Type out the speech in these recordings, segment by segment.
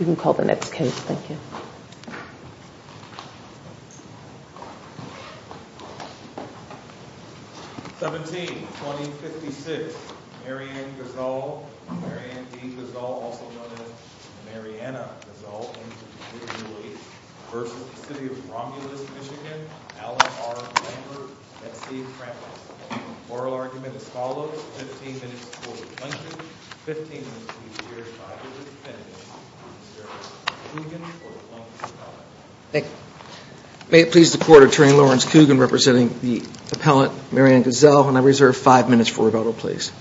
You can call the next case. Thank you. 17-2056, Marianne Guzall, also known as Marianna Guzall v. City of Romulus, MI, Alan R. Lankford v. C. Krampus. The oral argument is as follows. 15 minutes for the plaintiff. 15 minutes to be heard by the defendant. Mr. Kugin for the plaintiff's appellate. Thank you. May it please the Court Attorney Lawrence Kugin representing the appellate, Marianne Guzall, when I reserve five minutes for rebuttal, please.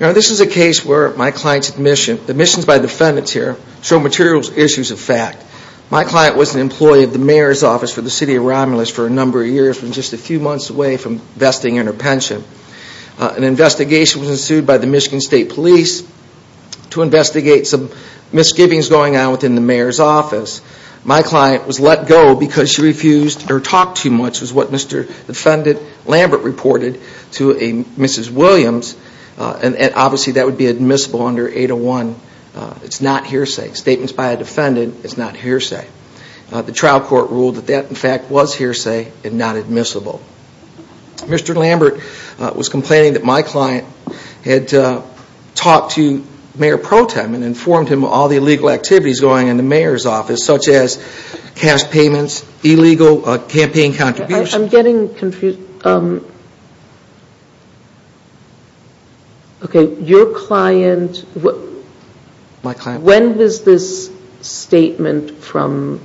Now this is a case where my client's admission, admissions by defendants here, show material issues of fact. My client was an employee of the mayor's office for the City of Romulus for a number of years and just a few months away from vesting in her pension. An investigation was ensued by the Michigan State Police to investigate some misgivings going on within the mayor's office. My client was let go because she refused to talk too much, was what Mr. Defendant Lambert reported to a Mrs. Williams, and obviously that would be admissible under 801. It's not hearsay. Statements by a defendant is not hearsay. The trial court ruled that that, in fact, was hearsay and not admissible. Mr. Lambert was complaining that my client had talked to Mayor Pro Tem and informed him of all the illegal activities going on in the mayor's office, such as cash payments, illegal campaign contributions. I'm getting confused. Okay, your client, when was this statement from,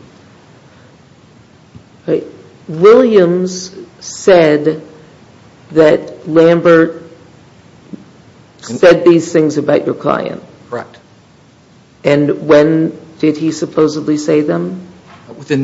Williams said that Lambert said these things about your client. Correct. And when did he supposedly say them? Within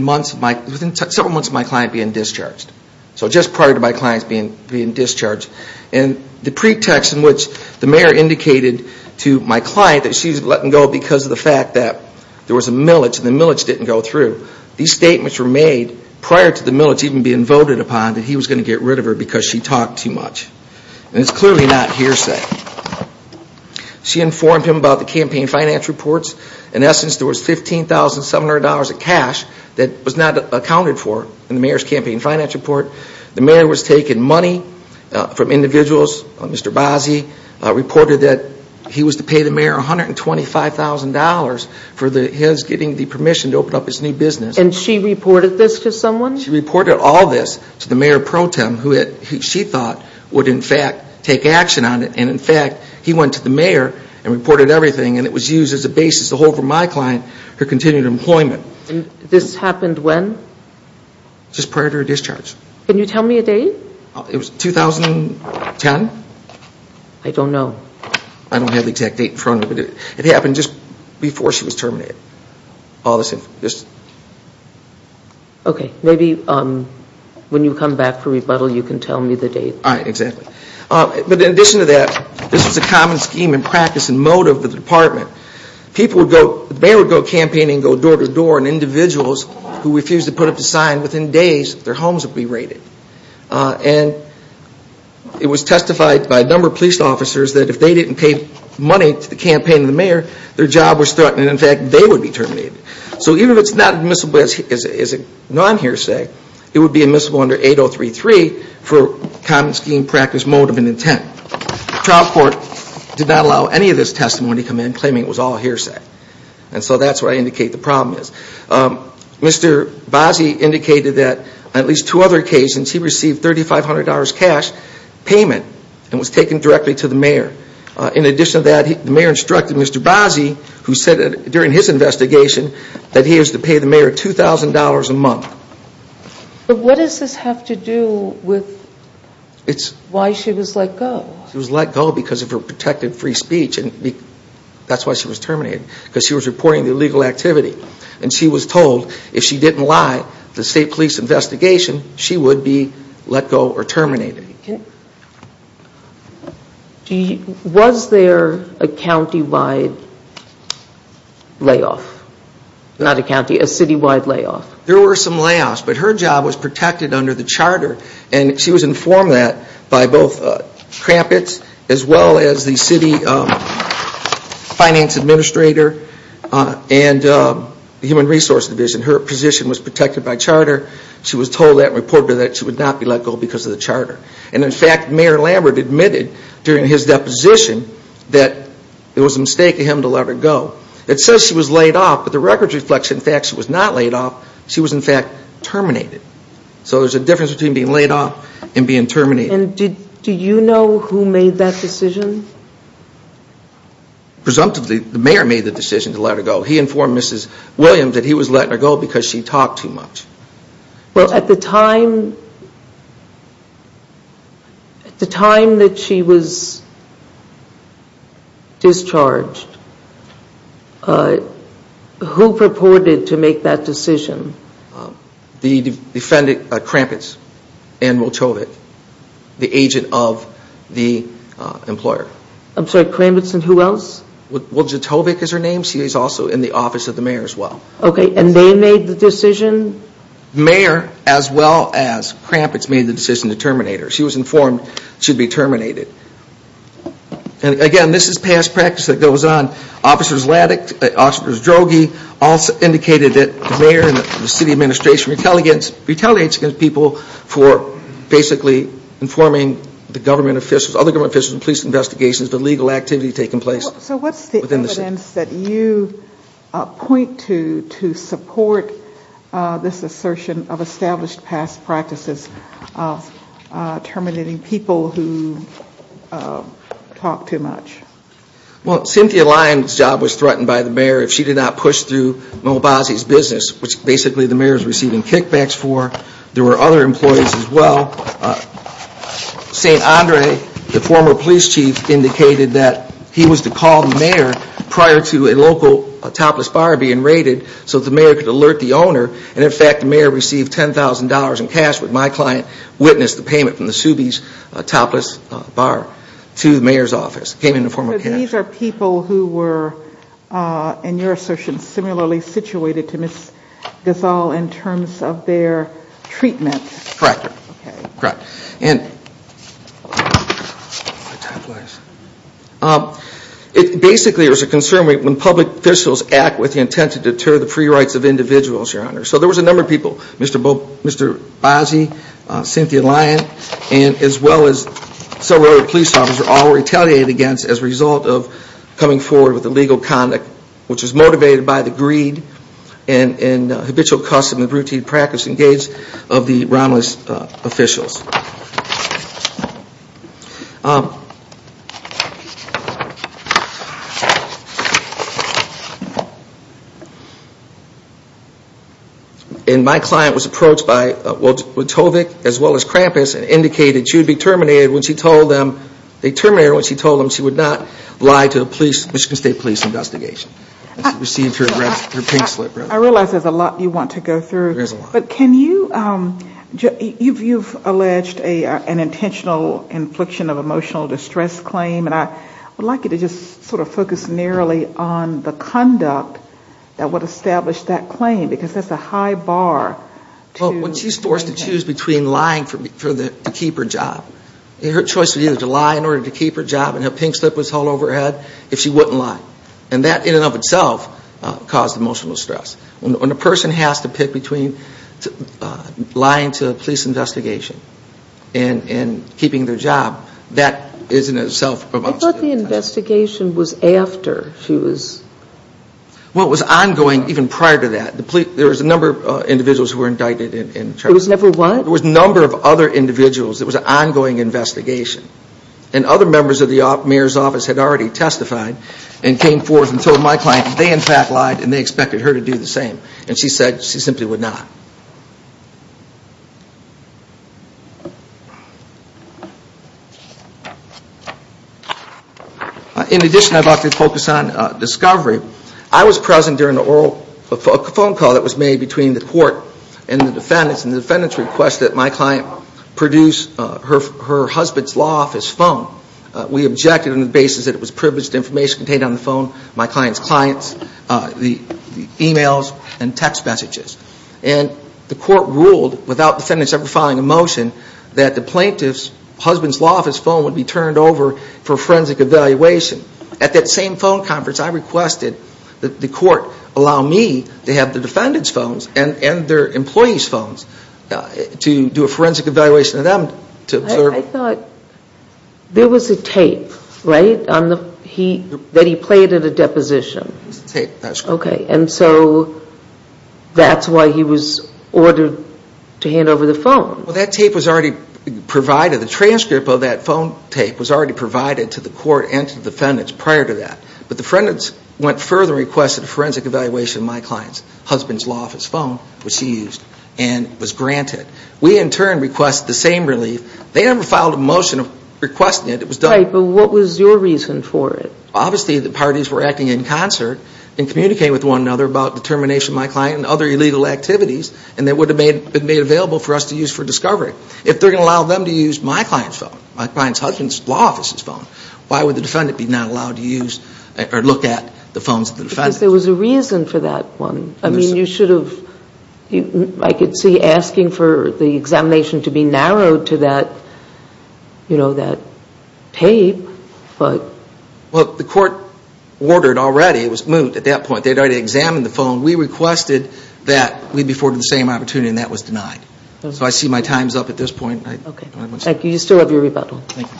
several months of my client being discharged. So just prior to my client being discharged. The pretext in which the mayor indicated to my client that she was letting go because of the fact that there was a millage and the millage didn't go through, these statements were made prior to the millage even being voted upon that he was going to get rid of her because she talked too much. And it's clearly not hearsay. She informed him about the campaign finance reports. In essence, there was $15,700 of cash that was not accounted for in the mayor's campaign finance report. The mayor was taking money from individuals. Mr. Bozzi reported that he was to pay the mayor $125,000 for his getting the permission to open up his new business. And she reported this to someone? She reported all this to the mayor of Pro Tem who she thought would, in fact, take action on it. And, in fact, he went to the mayor and reported everything, and it was used as a basis to hold for my client her continued employment. And this happened when? Just prior to her discharge. Can you tell me a date? It was 2010. I don't know. I don't have the exact date in front of me. But it happened just before she was terminated. All this information. Okay. Maybe when you come back for rebuttal you can tell me the date. All right. Exactly. But in addition to that, this was a common scheme and practice and motive of the department. The mayor would go campaigning, go door to door, and individuals who refused to put up a sign, within days their homes would be raided. And it was testified by a number of police officers that if they didn't pay money to the campaign of the mayor, their job was threatened, and, in fact, they would be terminated. So even if it's not admissible as a non-hearsay, it would be admissible under 8033 for common scheme, practice, motive, and intent. The trial court did not allow any of this testimony to come in claiming it was all hearsay. And so that's where I indicate the problem is. Mr. Bazzi indicated that on at least two other occasions he received $3,500 cash payment and was taken directly to the mayor. In addition to that, the mayor instructed Mr. Bazzi, who said during his investigation, that he is to pay the mayor $2,000 a month. But what does this have to do with why she was let go? She was let go because of her protected free speech, and that's why she was terminated, because she was reporting the illegal activity. And she was told if she didn't lie to the state police investigation, she would be let go or terminated. Was there a countywide layoff? Not a county, a citywide layoff? There were some layoffs, but her job was protected under the charter, and she was informed of that by both crampets as well as the city finance administrator and the human resource division. Her position was protected by charter. She was told that and reported that she would not be let go because of the charter. And in fact, Mayor Lambert admitted during his deposition that it was a mistake of him to let her go. It says she was laid off, but the records reflect that in fact she was not laid off, she was in fact terminated. So there's a difference between being laid off and being terminated. And do you know who made that decision? Presumptively, the mayor made the decision to let her go. He informed Mrs. Williams that he was letting her go because she talked too much. Well, at the time that she was discharged, who purported to make that decision? Crampets and Motovic, the agent of the employer. I'm sorry, Crampets and who else? Well, Jatovic is her name. She is also in the office of the mayor as well. Okay, and they made the decision? Mayor as well as Crampets made the decision to terminate her. She was informed she would be terminated. And again, this is past practice that goes on. Officers Laddick, officers Droege also indicated that the mayor and the city administration retaliates against people for basically informing the government officials, other government officials, police investigations, the legal activity taking place within the city. So what's the evidence that you point to to support this assertion of established past practices of terminating people who talk too much? Well, Cynthia Lyons' job was threatened by the mayor if she did not push through Mo Basi's business, which basically the mayor is receiving kickbacks for. There were other employees as well. St. Andre, the former police chief, indicated that he was to call the mayor prior to a local topless bar being raided so the mayor could alert the owner. And in fact, the mayor received $10,000 in cash when my client witnessed the payment from the Suby's topless bar to the mayor's office. It came in the form of cash. So these are people who were, in your assertion, similarly situated to Ms. Gasol in terms of their treatment? Correct. It basically was a concern when public officials act with the intent to deter the free rights of individuals, Your Honor. So there was a number of people, Mr. Basi, Cynthia Lyons, as well as several other police officers, all retaliated against as a result of coming forward with illegal conduct, which was motivated by the greed and habitual custom of routine practice engaged of the Romulus officials. And my client was approached by Wachovic as well as Krampus and indicated she would be terminated when she told them she would not lie to a Michigan State police investigation. She received her pink slip. I realize there's a lot you want to go through. There is a lot. But can you, you've alleged an intentional infliction of emotional distress claim. And I would like you to just sort of focus narrowly on the conduct that would establish that claim because that's a high bar. Well, when she's forced to choose between lying to keep her job, her choice would be to lie in order to keep her job and her pink slip was hauled over her head if she wouldn't lie. And that in and of itself caused emotional stress. When a person has to pick between lying to a police investigation and keeping their job, that is in itself emotional distress. I thought the investigation was after she was. Well, it was ongoing even prior to that. There was a number of individuals who were indicted. There was never one? There was a number of other individuals. It was an ongoing investigation. And other members of the mayor's office had already testified and came forth and told my client they in fact lied and they expected her to do the same. And she said she simply would not. In addition, I'd like to focus on discovery. I was present during a phone call that was made between the court and the defendants and the defendants requested that my client produce her husband's law office phone. We objected on the basis that it was privileged information contained on the phone, my client's clients, the e-mails and text messages. And the court ruled without defendants ever filing a motion that the plaintiff's husband's law office phone would be turned over for forensic evaluation. At that same phone conference, I requested that the court allow me to have the defendants' phones and their employees' phones to do a forensic evaluation of them to observe. I thought there was a tape, right, that he played at a deposition. It was a tape. Okay. And so that's why he was ordered to hand over the phone. Well, that tape was already provided. The transcript of that phone tape was already provided to the court and to the defendants prior to that. But the defendants went further and requested a forensic evaluation of my client's husband's law office phone, which she used, and was granted. We, in turn, request the same relief. They never filed a motion requesting it. It was done. Right. But what was your reason for it? Obviously, the parties were acting in concert and communicating with one another about determination of my client and other illegal activities, and that would have been made available for us to use for discovery. If they're going to allow them to use my client's phone, my client's husband's law office's phone, why would the defendant be not allowed to use or look at the phones of the defendants? Because there was a reason for that one. I mean, you should have, I could see asking for the examination to be narrowed to that, you know, that tape, but... Well, the court ordered already. It was moot at that point. They had already examined the phone. We requested that we be afforded the same opportunity, and that was denied. So I see my time's up at this point. Okay. Thank you. You still have your rebuttal. Thank you.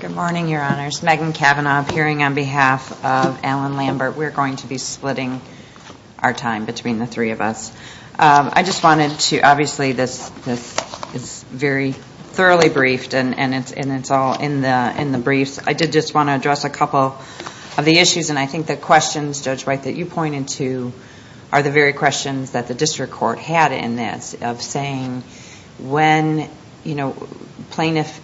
Good morning, Your Honors. Megan Kavanaugh, appearing on behalf of Alan Lambert. We're going to be splitting our time between the three of us. I just wanted to, obviously, this is very thoroughly briefed, and it's all in the briefs. I did just want to address a couple of the issues, and I think the questions, Judge White, that you pointed to are the very questions that the district court had in this of saying when, you know, plaintiff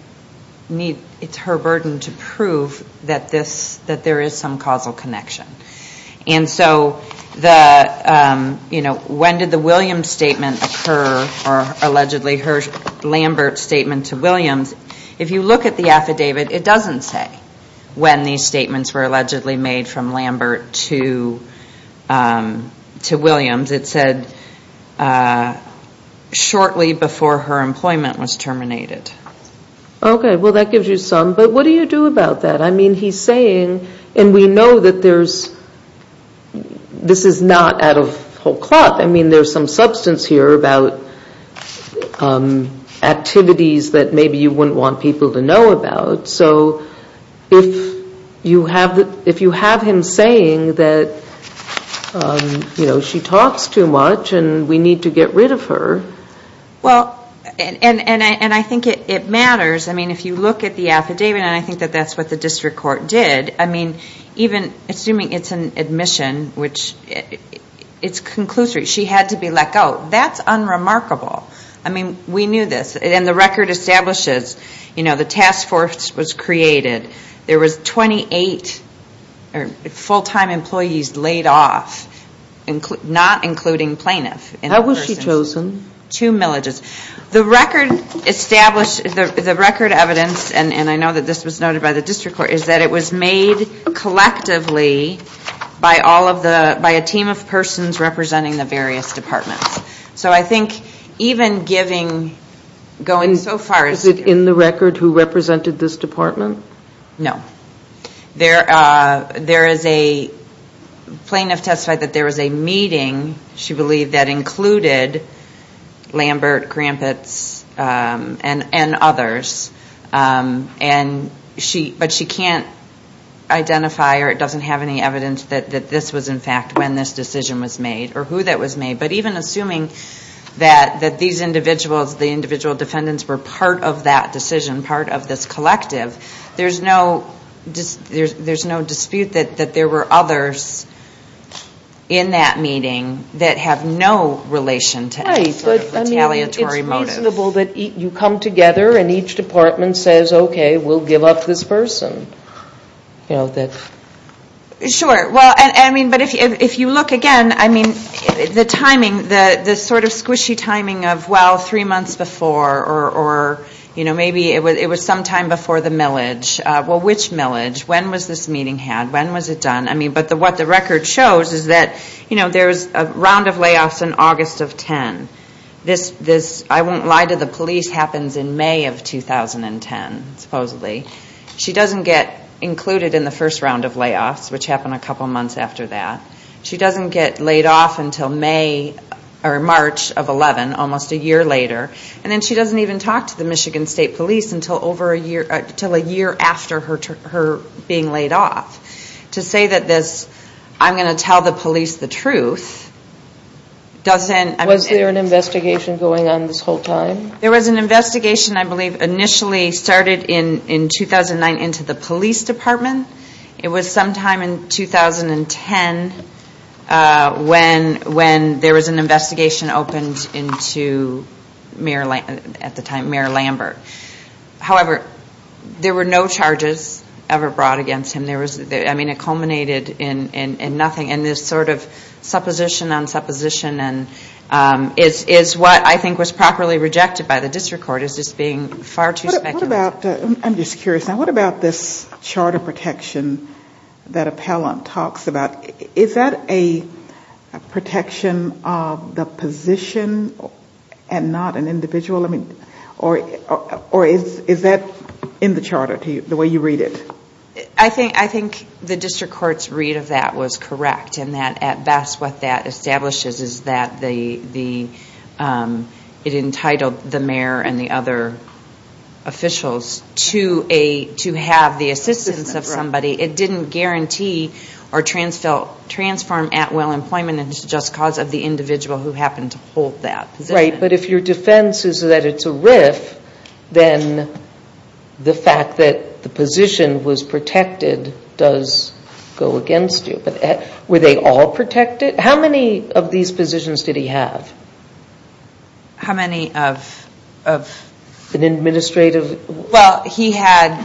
needs, it's her burden to prove that this, that there is some causal connection. And so the, you know, when did the Williams statement occur, or allegedly her Lambert statement to Williams? If you look at the affidavit, it doesn't say when these statements were allegedly made from Lambert to Williams. It said shortly before her employment was terminated. Okay. Well, that gives you some. But what do you do about that? I mean, he's saying, and we know that there's, this is not out of whole cloth. I mean, there's some substance here about activities that maybe you wouldn't want people to know about. So if you have him saying that, you know, she talks too much and we need to get rid of her. Well, and I think it matters. I mean, if you look at the affidavit, and I think that that's what the district court did. I mean, even assuming it's an admission, which it's conclusive, she had to be let go. That's unremarkable. I mean, we knew this. And the record establishes, you know, the task force was created. There was 28 full-time employees laid off, not including plaintiff. How was she chosen? Two millages. Two millages. The record established, the record evidence, and I know that this was noted by the district court, is that it was made collectively by all of the, by a team of persons representing the various departments. So I think even giving, going so far as to- Is it in the record who represented this department? No. There is a plaintiff testified that there was a meeting, she believed, that included Lambert, Krampets, and others. And she, but she can't identify or it doesn't have any evidence that this was, in fact, when this decision was made or who that was made. But even assuming that these individuals, the individual defendants, were part of that decision, part of this collective, there's no, there's no dispute that there were others in that meeting that have no relation to any sort of retaliatory motive. Right, but I mean, it's reasonable that you come together and each department says, okay, we'll give up this person. You know, that's- Sure. Well, I mean, but if you look again, I mean, the timing, the sort of squishy timing of, well, three months before or, you know, maybe it was sometime before the millage. Well, which millage? When was this meeting had? When was it done? I mean, but what the record shows is that, you know, there's a round of layoffs in August of 10. This, I won't lie to the police, happens in May of 2010, supposedly. She doesn't get included in the first round of layoffs, which happened a couple months after that. She doesn't get laid off until May or March of 11, almost a year later. And then she doesn't even talk to the Michigan State Police until over a year, until a year after her being laid off. To say that this, I'm going to tell the police the truth, doesn't- Was there an investigation going on this whole time? There was an investigation, I believe, initially started in 2009 into the police department. It was sometime in 2010 when there was an investigation opened into Mayor, at the time, Mayor Lambert. However, there were no charges ever brought against him. There was, I mean, it culminated in nothing. And this sort of supposition on supposition is what I think was properly rejected by the District Court as just being far too speculative. What about, I'm just curious now, what about this charter protection that Appellant talks about? Is that a protection of the position and not an individual? Or is that in the charter, the way you read it? I think the District Court's read of that was correct, and that at best what that establishes is that it entitled the mayor and the other officials to have the assistance of somebody. It didn't guarantee or transform at will employment, and it's just because of the individual who happened to hold that position. Right, but if your defense is that it's a RIF, then the fact that the position was protected does go against you. But were they all protected? How many of these positions did he have? How many of? An administrative? Well, he had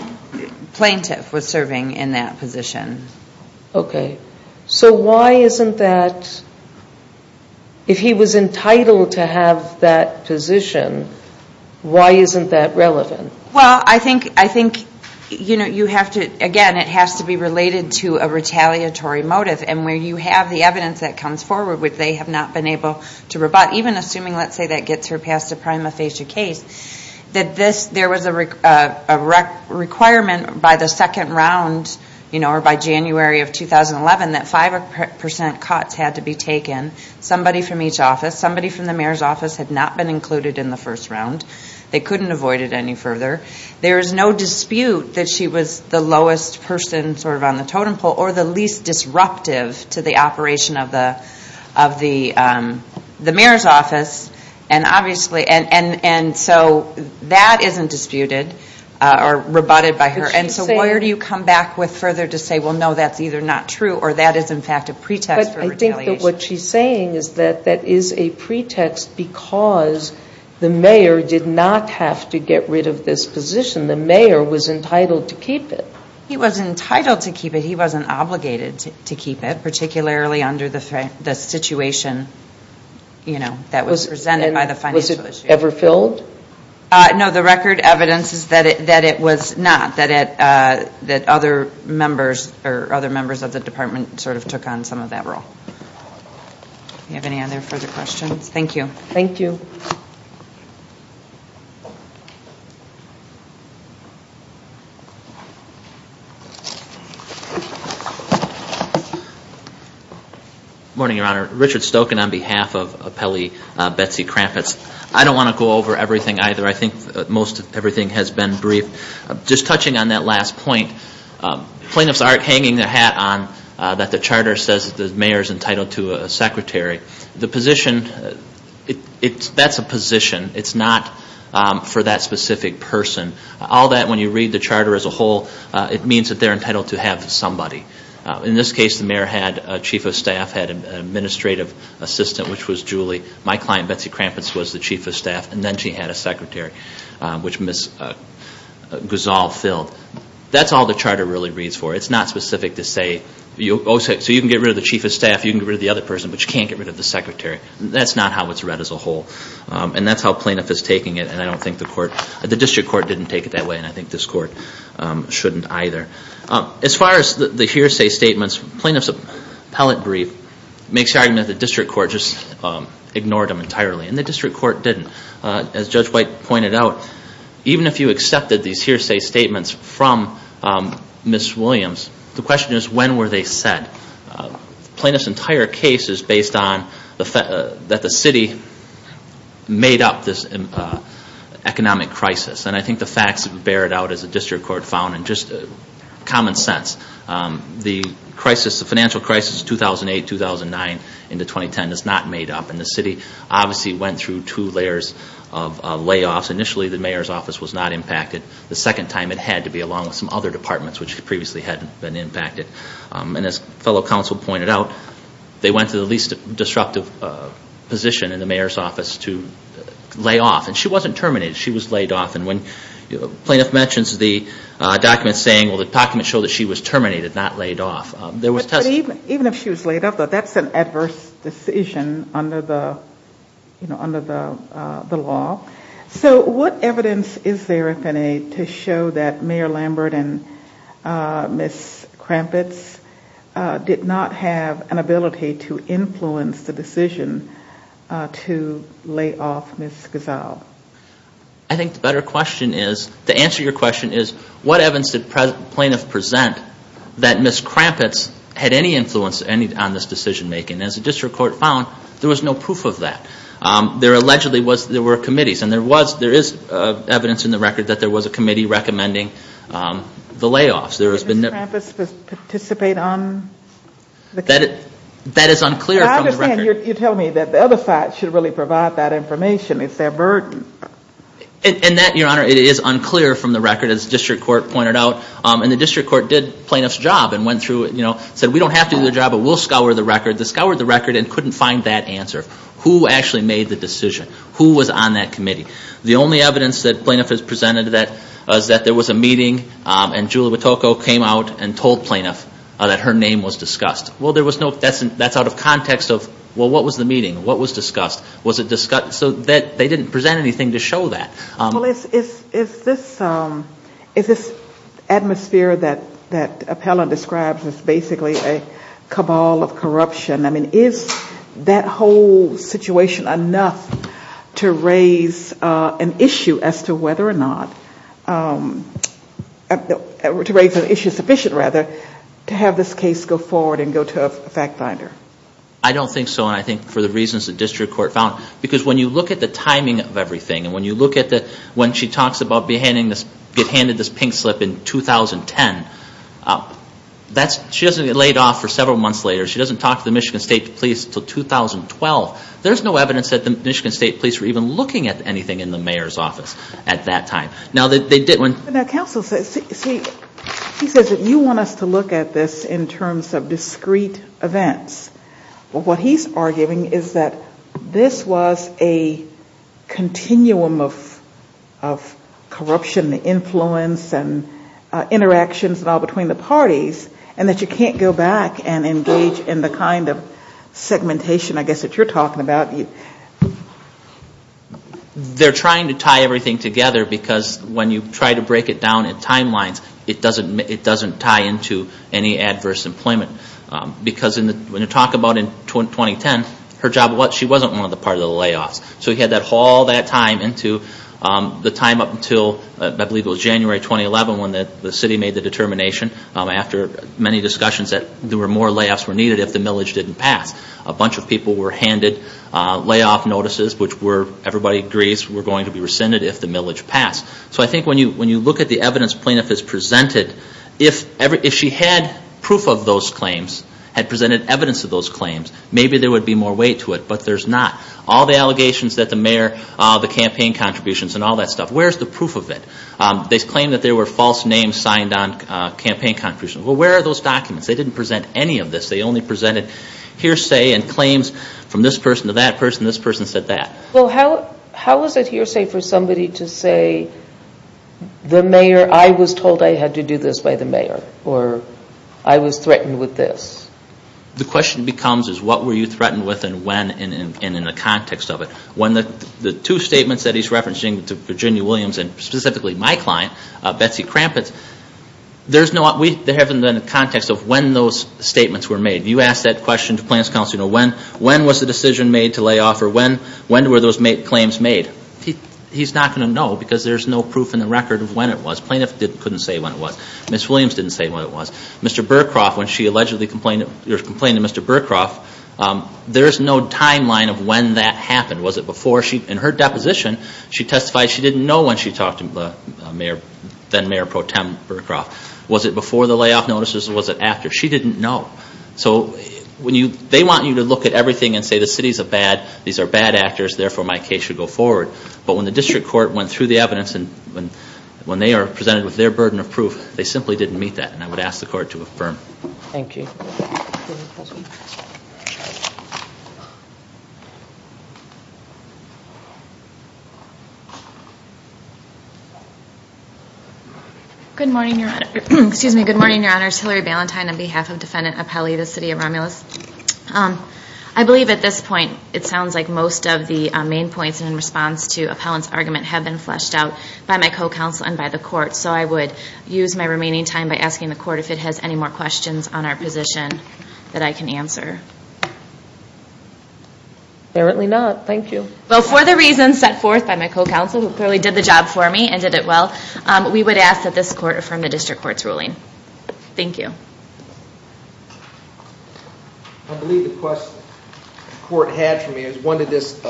plaintiff was serving in that position. Okay. So why isn't that, if he was entitled to have that position, why isn't that relevant? Well, I think, you know, you have to, again, it has to be related to a retaliatory motive. And where you have the evidence that comes forward, which they have not been able to rebut, even assuming, let's say, that gets her past a prima facie case, that there was a requirement by the second round, you know, or by January of 2011, that 5% cuts had to be taken, somebody from each office. Somebody from the mayor's office had not been included in the first round. They couldn't avoid it any further. There is no dispute that she was the lowest person sort of on the totem pole or the least disruptive to the operation of the mayor's office. And so that isn't disputed or rebutted by her. And so where do you come back with further to say, well, no, that's either not true or that is, in fact, a pretext for retaliation? Well, I think that what she's saying is that that is a pretext because the mayor did not have to get rid of this position. The mayor was entitled to keep it. He was entitled to keep it. He wasn't obligated to keep it, particularly under the situation, you know, that was presented by the financial issue. Was it ever filled? No, the record evidence is that it was not, that other members of the department sort of took on some of that role. Do you have any other further questions? Thank you. Thank you. Good morning, Your Honor. Richard Stokin on behalf of appellee Betsy Krampus. I don't want to go over everything either. I think most of everything has been brief. Just touching on that last point, plaintiffs are hanging their hat on that the charter says that the mayor is entitled to a secretary. The position, that's a position. It's not for that specific person. All that, when you read the charter as a whole, it means that they're entitled to have somebody. In this case, the mayor had a chief of staff, had an administrative assistant, which was Julie. My client, Betsy Krampus, was the chief of staff, and then she had a secretary, which Ms. Guzal filled. That's all the charter really reads for. It's not specific to say, so you can get rid of the chief of staff, you can get rid of the other person, but you can't get rid of the secretary. That's not how it's read as a whole. And that's how plaintiff is taking it, and I don't think the court, the district court didn't take it that way, and I think this court shouldn't either. As far as the hearsay statements, plaintiff's appellate brief makes the argument that the district court just ignored them entirely, and the district court didn't. As Judge White pointed out, even if you accepted these hearsay statements from Ms. Williams, the question is, when were they said? Plaintiff's entire case is based on that the city made up this economic crisis, and I think the facts bear it out, as the district court found, in just common sense. The financial crisis 2008-2009 into 2010 is not made up, and the city obviously went through two layers of layoffs. Initially, the mayor's office was not impacted. The second time, it had to be along with some other departments, which previously hadn't been impacted. And as fellow counsel pointed out, they went to the least disruptive position in the mayor's office to lay off, and she wasn't terminated. She was laid off, and when plaintiff mentions the documents saying, well, the documents show that she was terminated, not laid off, there was testimony. But even if she was laid off, that's an adverse decision under the law. So what evidence is there, if any, to show that Mayor Lambert and Ms. Krampitz did not have an ability to influence the decision to lay off Ms. Gazelle? I think the better question is, the answer to your question is, what evidence did plaintiff present that Ms. Krampitz had any influence on this decision-making? As the district court found, there was no proof of that. There allegedly were committees, and there is evidence in the record that there was a committee recommending the layoffs. Did Ms. Krampitz participate on the committee? That is unclear from the record. And you're telling me that the other side should really provide that information. It's their burden. And that, Your Honor, it is unclear from the record, as the district court pointed out. And the district court did plaintiff's job and went through it and said, we don't have to do the job, but we'll scour the record. They scoured the record and couldn't find that answer. Who actually made the decision? Who was on that committee? The only evidence that plaintiff has presented is that there was a meeting, and Julie Witoko came out and told plaintiff that her name was discussed. Well, that's out of context of, well, what was the meeting? What was discussed? Was it discussed? So they didn't present anything to show that. Well, is this atmosphere that Appellant describes as basically a cabal of corruption, I mean, is that whole situation enough to raise an issue as to whether or not, to raise an issue sufficient, rather, to have this case go forward and go to a fact finder? I don't think so. And I think for the reasons the district court found, because when you look at the timing of everything and when you look at the, when she talks about getting handed this pink slip in 2010, she doesn't get laid off for several months later. She doesn't talk to the Michigan State Police until 2012. There's no evidence that the Michigan State Police were even looking at anything in the mayor's office at that time. Now, counsel, he says that you want us to look at this in terms of discrete events. What he's arguing is that this was a continuum of corruption, the influence and interactions and all between the parties, and that you can't go back and engage in the kind of segmentation, I guess, that you're talking about. They're trying to tie everything together, because when you try to break it down in timelines, it doesn't tie into any adverse employment. Because when you talk about in 2010, her job, she wasn't one of the part of the layoffs. So he had to haul that time into the time up until, I believe it was January 2011, when the city made the determination, after many discussions, that there were more layoffs were needed if the millage didn't pass. A bunch of people were handed layoff notices, which everybody agrees were going to be rescinded if the millage passed. So I think when you look at the evidence plaintiff has presented, if she had proof of those claims, had presented evidence of those claims, maybe there would be more weight to it. But there's not. All the allegations that the mayor, the campaign contributions and all that stuff, where's the proof of it? They claim that there were false names signed on campaign contributions. Well, where are those documents? They didn't present any of this. They only presented hearsay and claims from this person to that person. This person said that. Well, how was it hearsay for somebody to say, I was told I had to do this by the mayor or I was threatened with this? The question becomes is what were you threatened with and when and in the context of it. The two statements that he's referencing to Virginia Williams and specifically my client, Betsy Krampus, there hasn't been a context of when those statements were made. You ask that question to plaintiff's counsel, when was the decision made to lay off or when were those claims made? He's not going to know because there's no proof in the record of when it was. Plaintiff couldn't say when it was. Ms. Williams didn't say when it was. Mr. Burcroft, when she allegedly complained to Mr. Burcroft, there's no timeline of when that happened. Was it before? In her deposition, she testified she didn't know when she talked to the mayor, Pro Tem Burcroft. Was it before the layoff notices or was it after? She didn't know. So they want you to look at everything and say the city's a bad, these are bad actors, therefore my case should go forward. But when the district court went through the evidence and when they are presented with their burden of proof, they simply didn't meet that and I would ask the court to affirm. Thank you. Good morning, Your Honor. Excuse me. Good morning, Your Honors. Hillary Ballantyne on behalf of Defendant Appelli, the city of Romulus. I believe at this point it sounds like most of the main points in response to Appellant's argument have been fleshed out by my co-counsel and by the court, so I would use my remaining time by asking the court if it has any more questions on our position that I can answer. Thank you. Well, for the reasons set forth by my co-counsel, who clearly did the job for me and did it well, we would ask that this court affirm the district court's ruling. Thank you. I believe the question the court had for me was when did this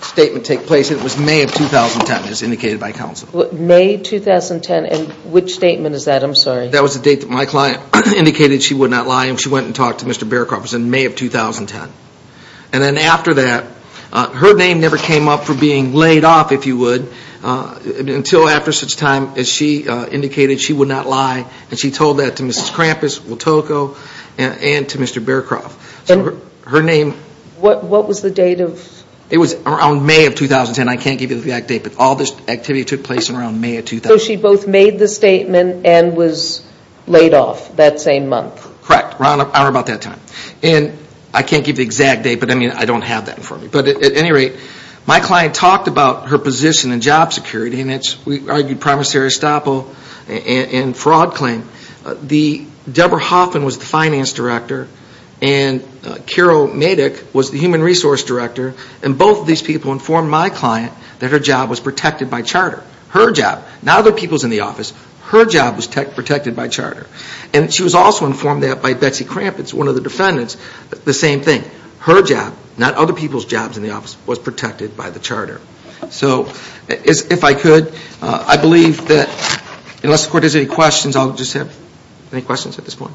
statement take place and it was May of 2010, as indicated by counsel. May 2010, and which statement is that? I'm sorry. That was the date that my client indicated she would not lie and she went and talked to Mr. Bearcarp, it was in May of 2010. And then after that, her name never came up for being laid off, if you would, until after such time as she indicated she would not lie and she told that to Mrs. Krampus, Wotoko, and to Mr. Bearcarp. So her name... What was the date of... It was around May of 2010, I can't give you the exact date, but all this activity took place around May of 2010. So she both made the statement and was laid off that same month. Correct, around about that time. And I can't give the exact date, but I mean, I don't have that in front of me. But at any rate, my client talked about her position in job security and it's, we argued, promissory estoppel and fraud claim. Deborah Hoffman was the finance director and Carol Matic was the human resource director and both of these people informed my client that her job was protected by charter. Her job. Not other people's in the office. Her job was protected by charter. And she was also informed that by Betsy Krampus, one of the defendants, the same thing. Her job, not other people's jobs in the office, was protected by the charter. So, if I could, I believe that... Unless the court has any questions, I'll just have... Any questions at this point?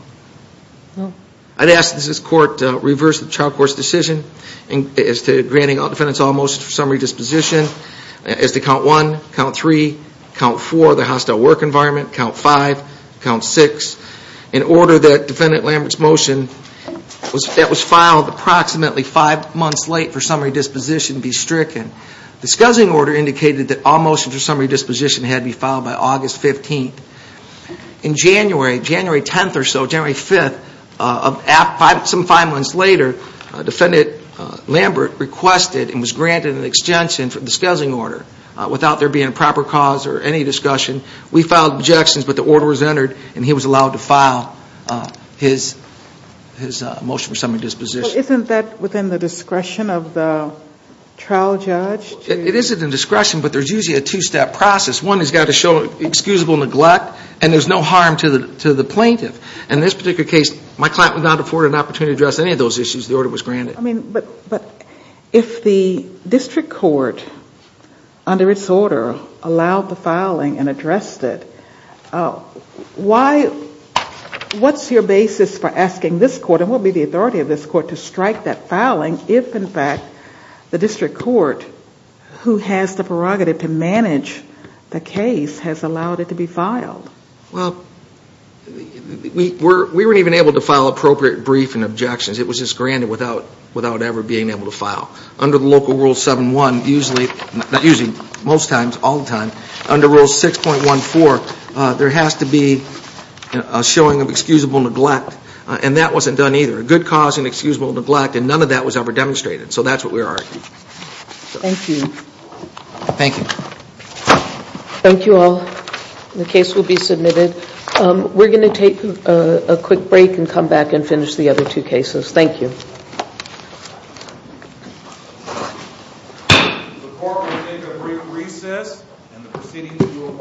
No. I'd ask that this court reverse the child court's decision as to granting defendants all motions for summary disposition as to count one, count three, count four, the hostile work environment, count five, count six, in order that defendant Lambert's motion that was filed approximately five months late for summary disposition be stricken. Discussing order indicated that all motions for summary disposition had to be filed by August 15th. In January, January 10th or so, January 5th, some five months later, defendant Lambert requested and was granted an extension for the discussing order without there being a proper cause or any discussion. We filed objections, but the order was entered and he was allowed to file his motion for summary disposition. Isn't that within the discretion of the trial judge? It is at the discretion, but there's usually a two-step process. One has got to show excusable neglect and there's no harm to the plaintiff. In this particular case, my client would not afford an opportunity to address any of those issues if the order was granted. But if the district court, under its order, allowed the filing and addressed it, what's your basis for asking this court and what would be the authority of this court to strike that filing if, in fact, the district court, who has the prerogative to manage the case, has allowed it to be filed? Well, we weren't even able to file appropriate brief and objections. It was just granted without ever being able to file. Under the local Rule 7-1, usually, not usually, most times, all the time, under Rule 6.14, there has to be a showing of excusable neglect, and that wasn't done either. A good cause and excusable neglect, and none of that was ever demonstrated. So that's what we're arguing. Thank you. Thank you. Thank you all. The case will be submitted. We're going to take a quick break and come back and finish the other two cases. Thank you. The court will take a brief recess, and the proceedings will resume shortly.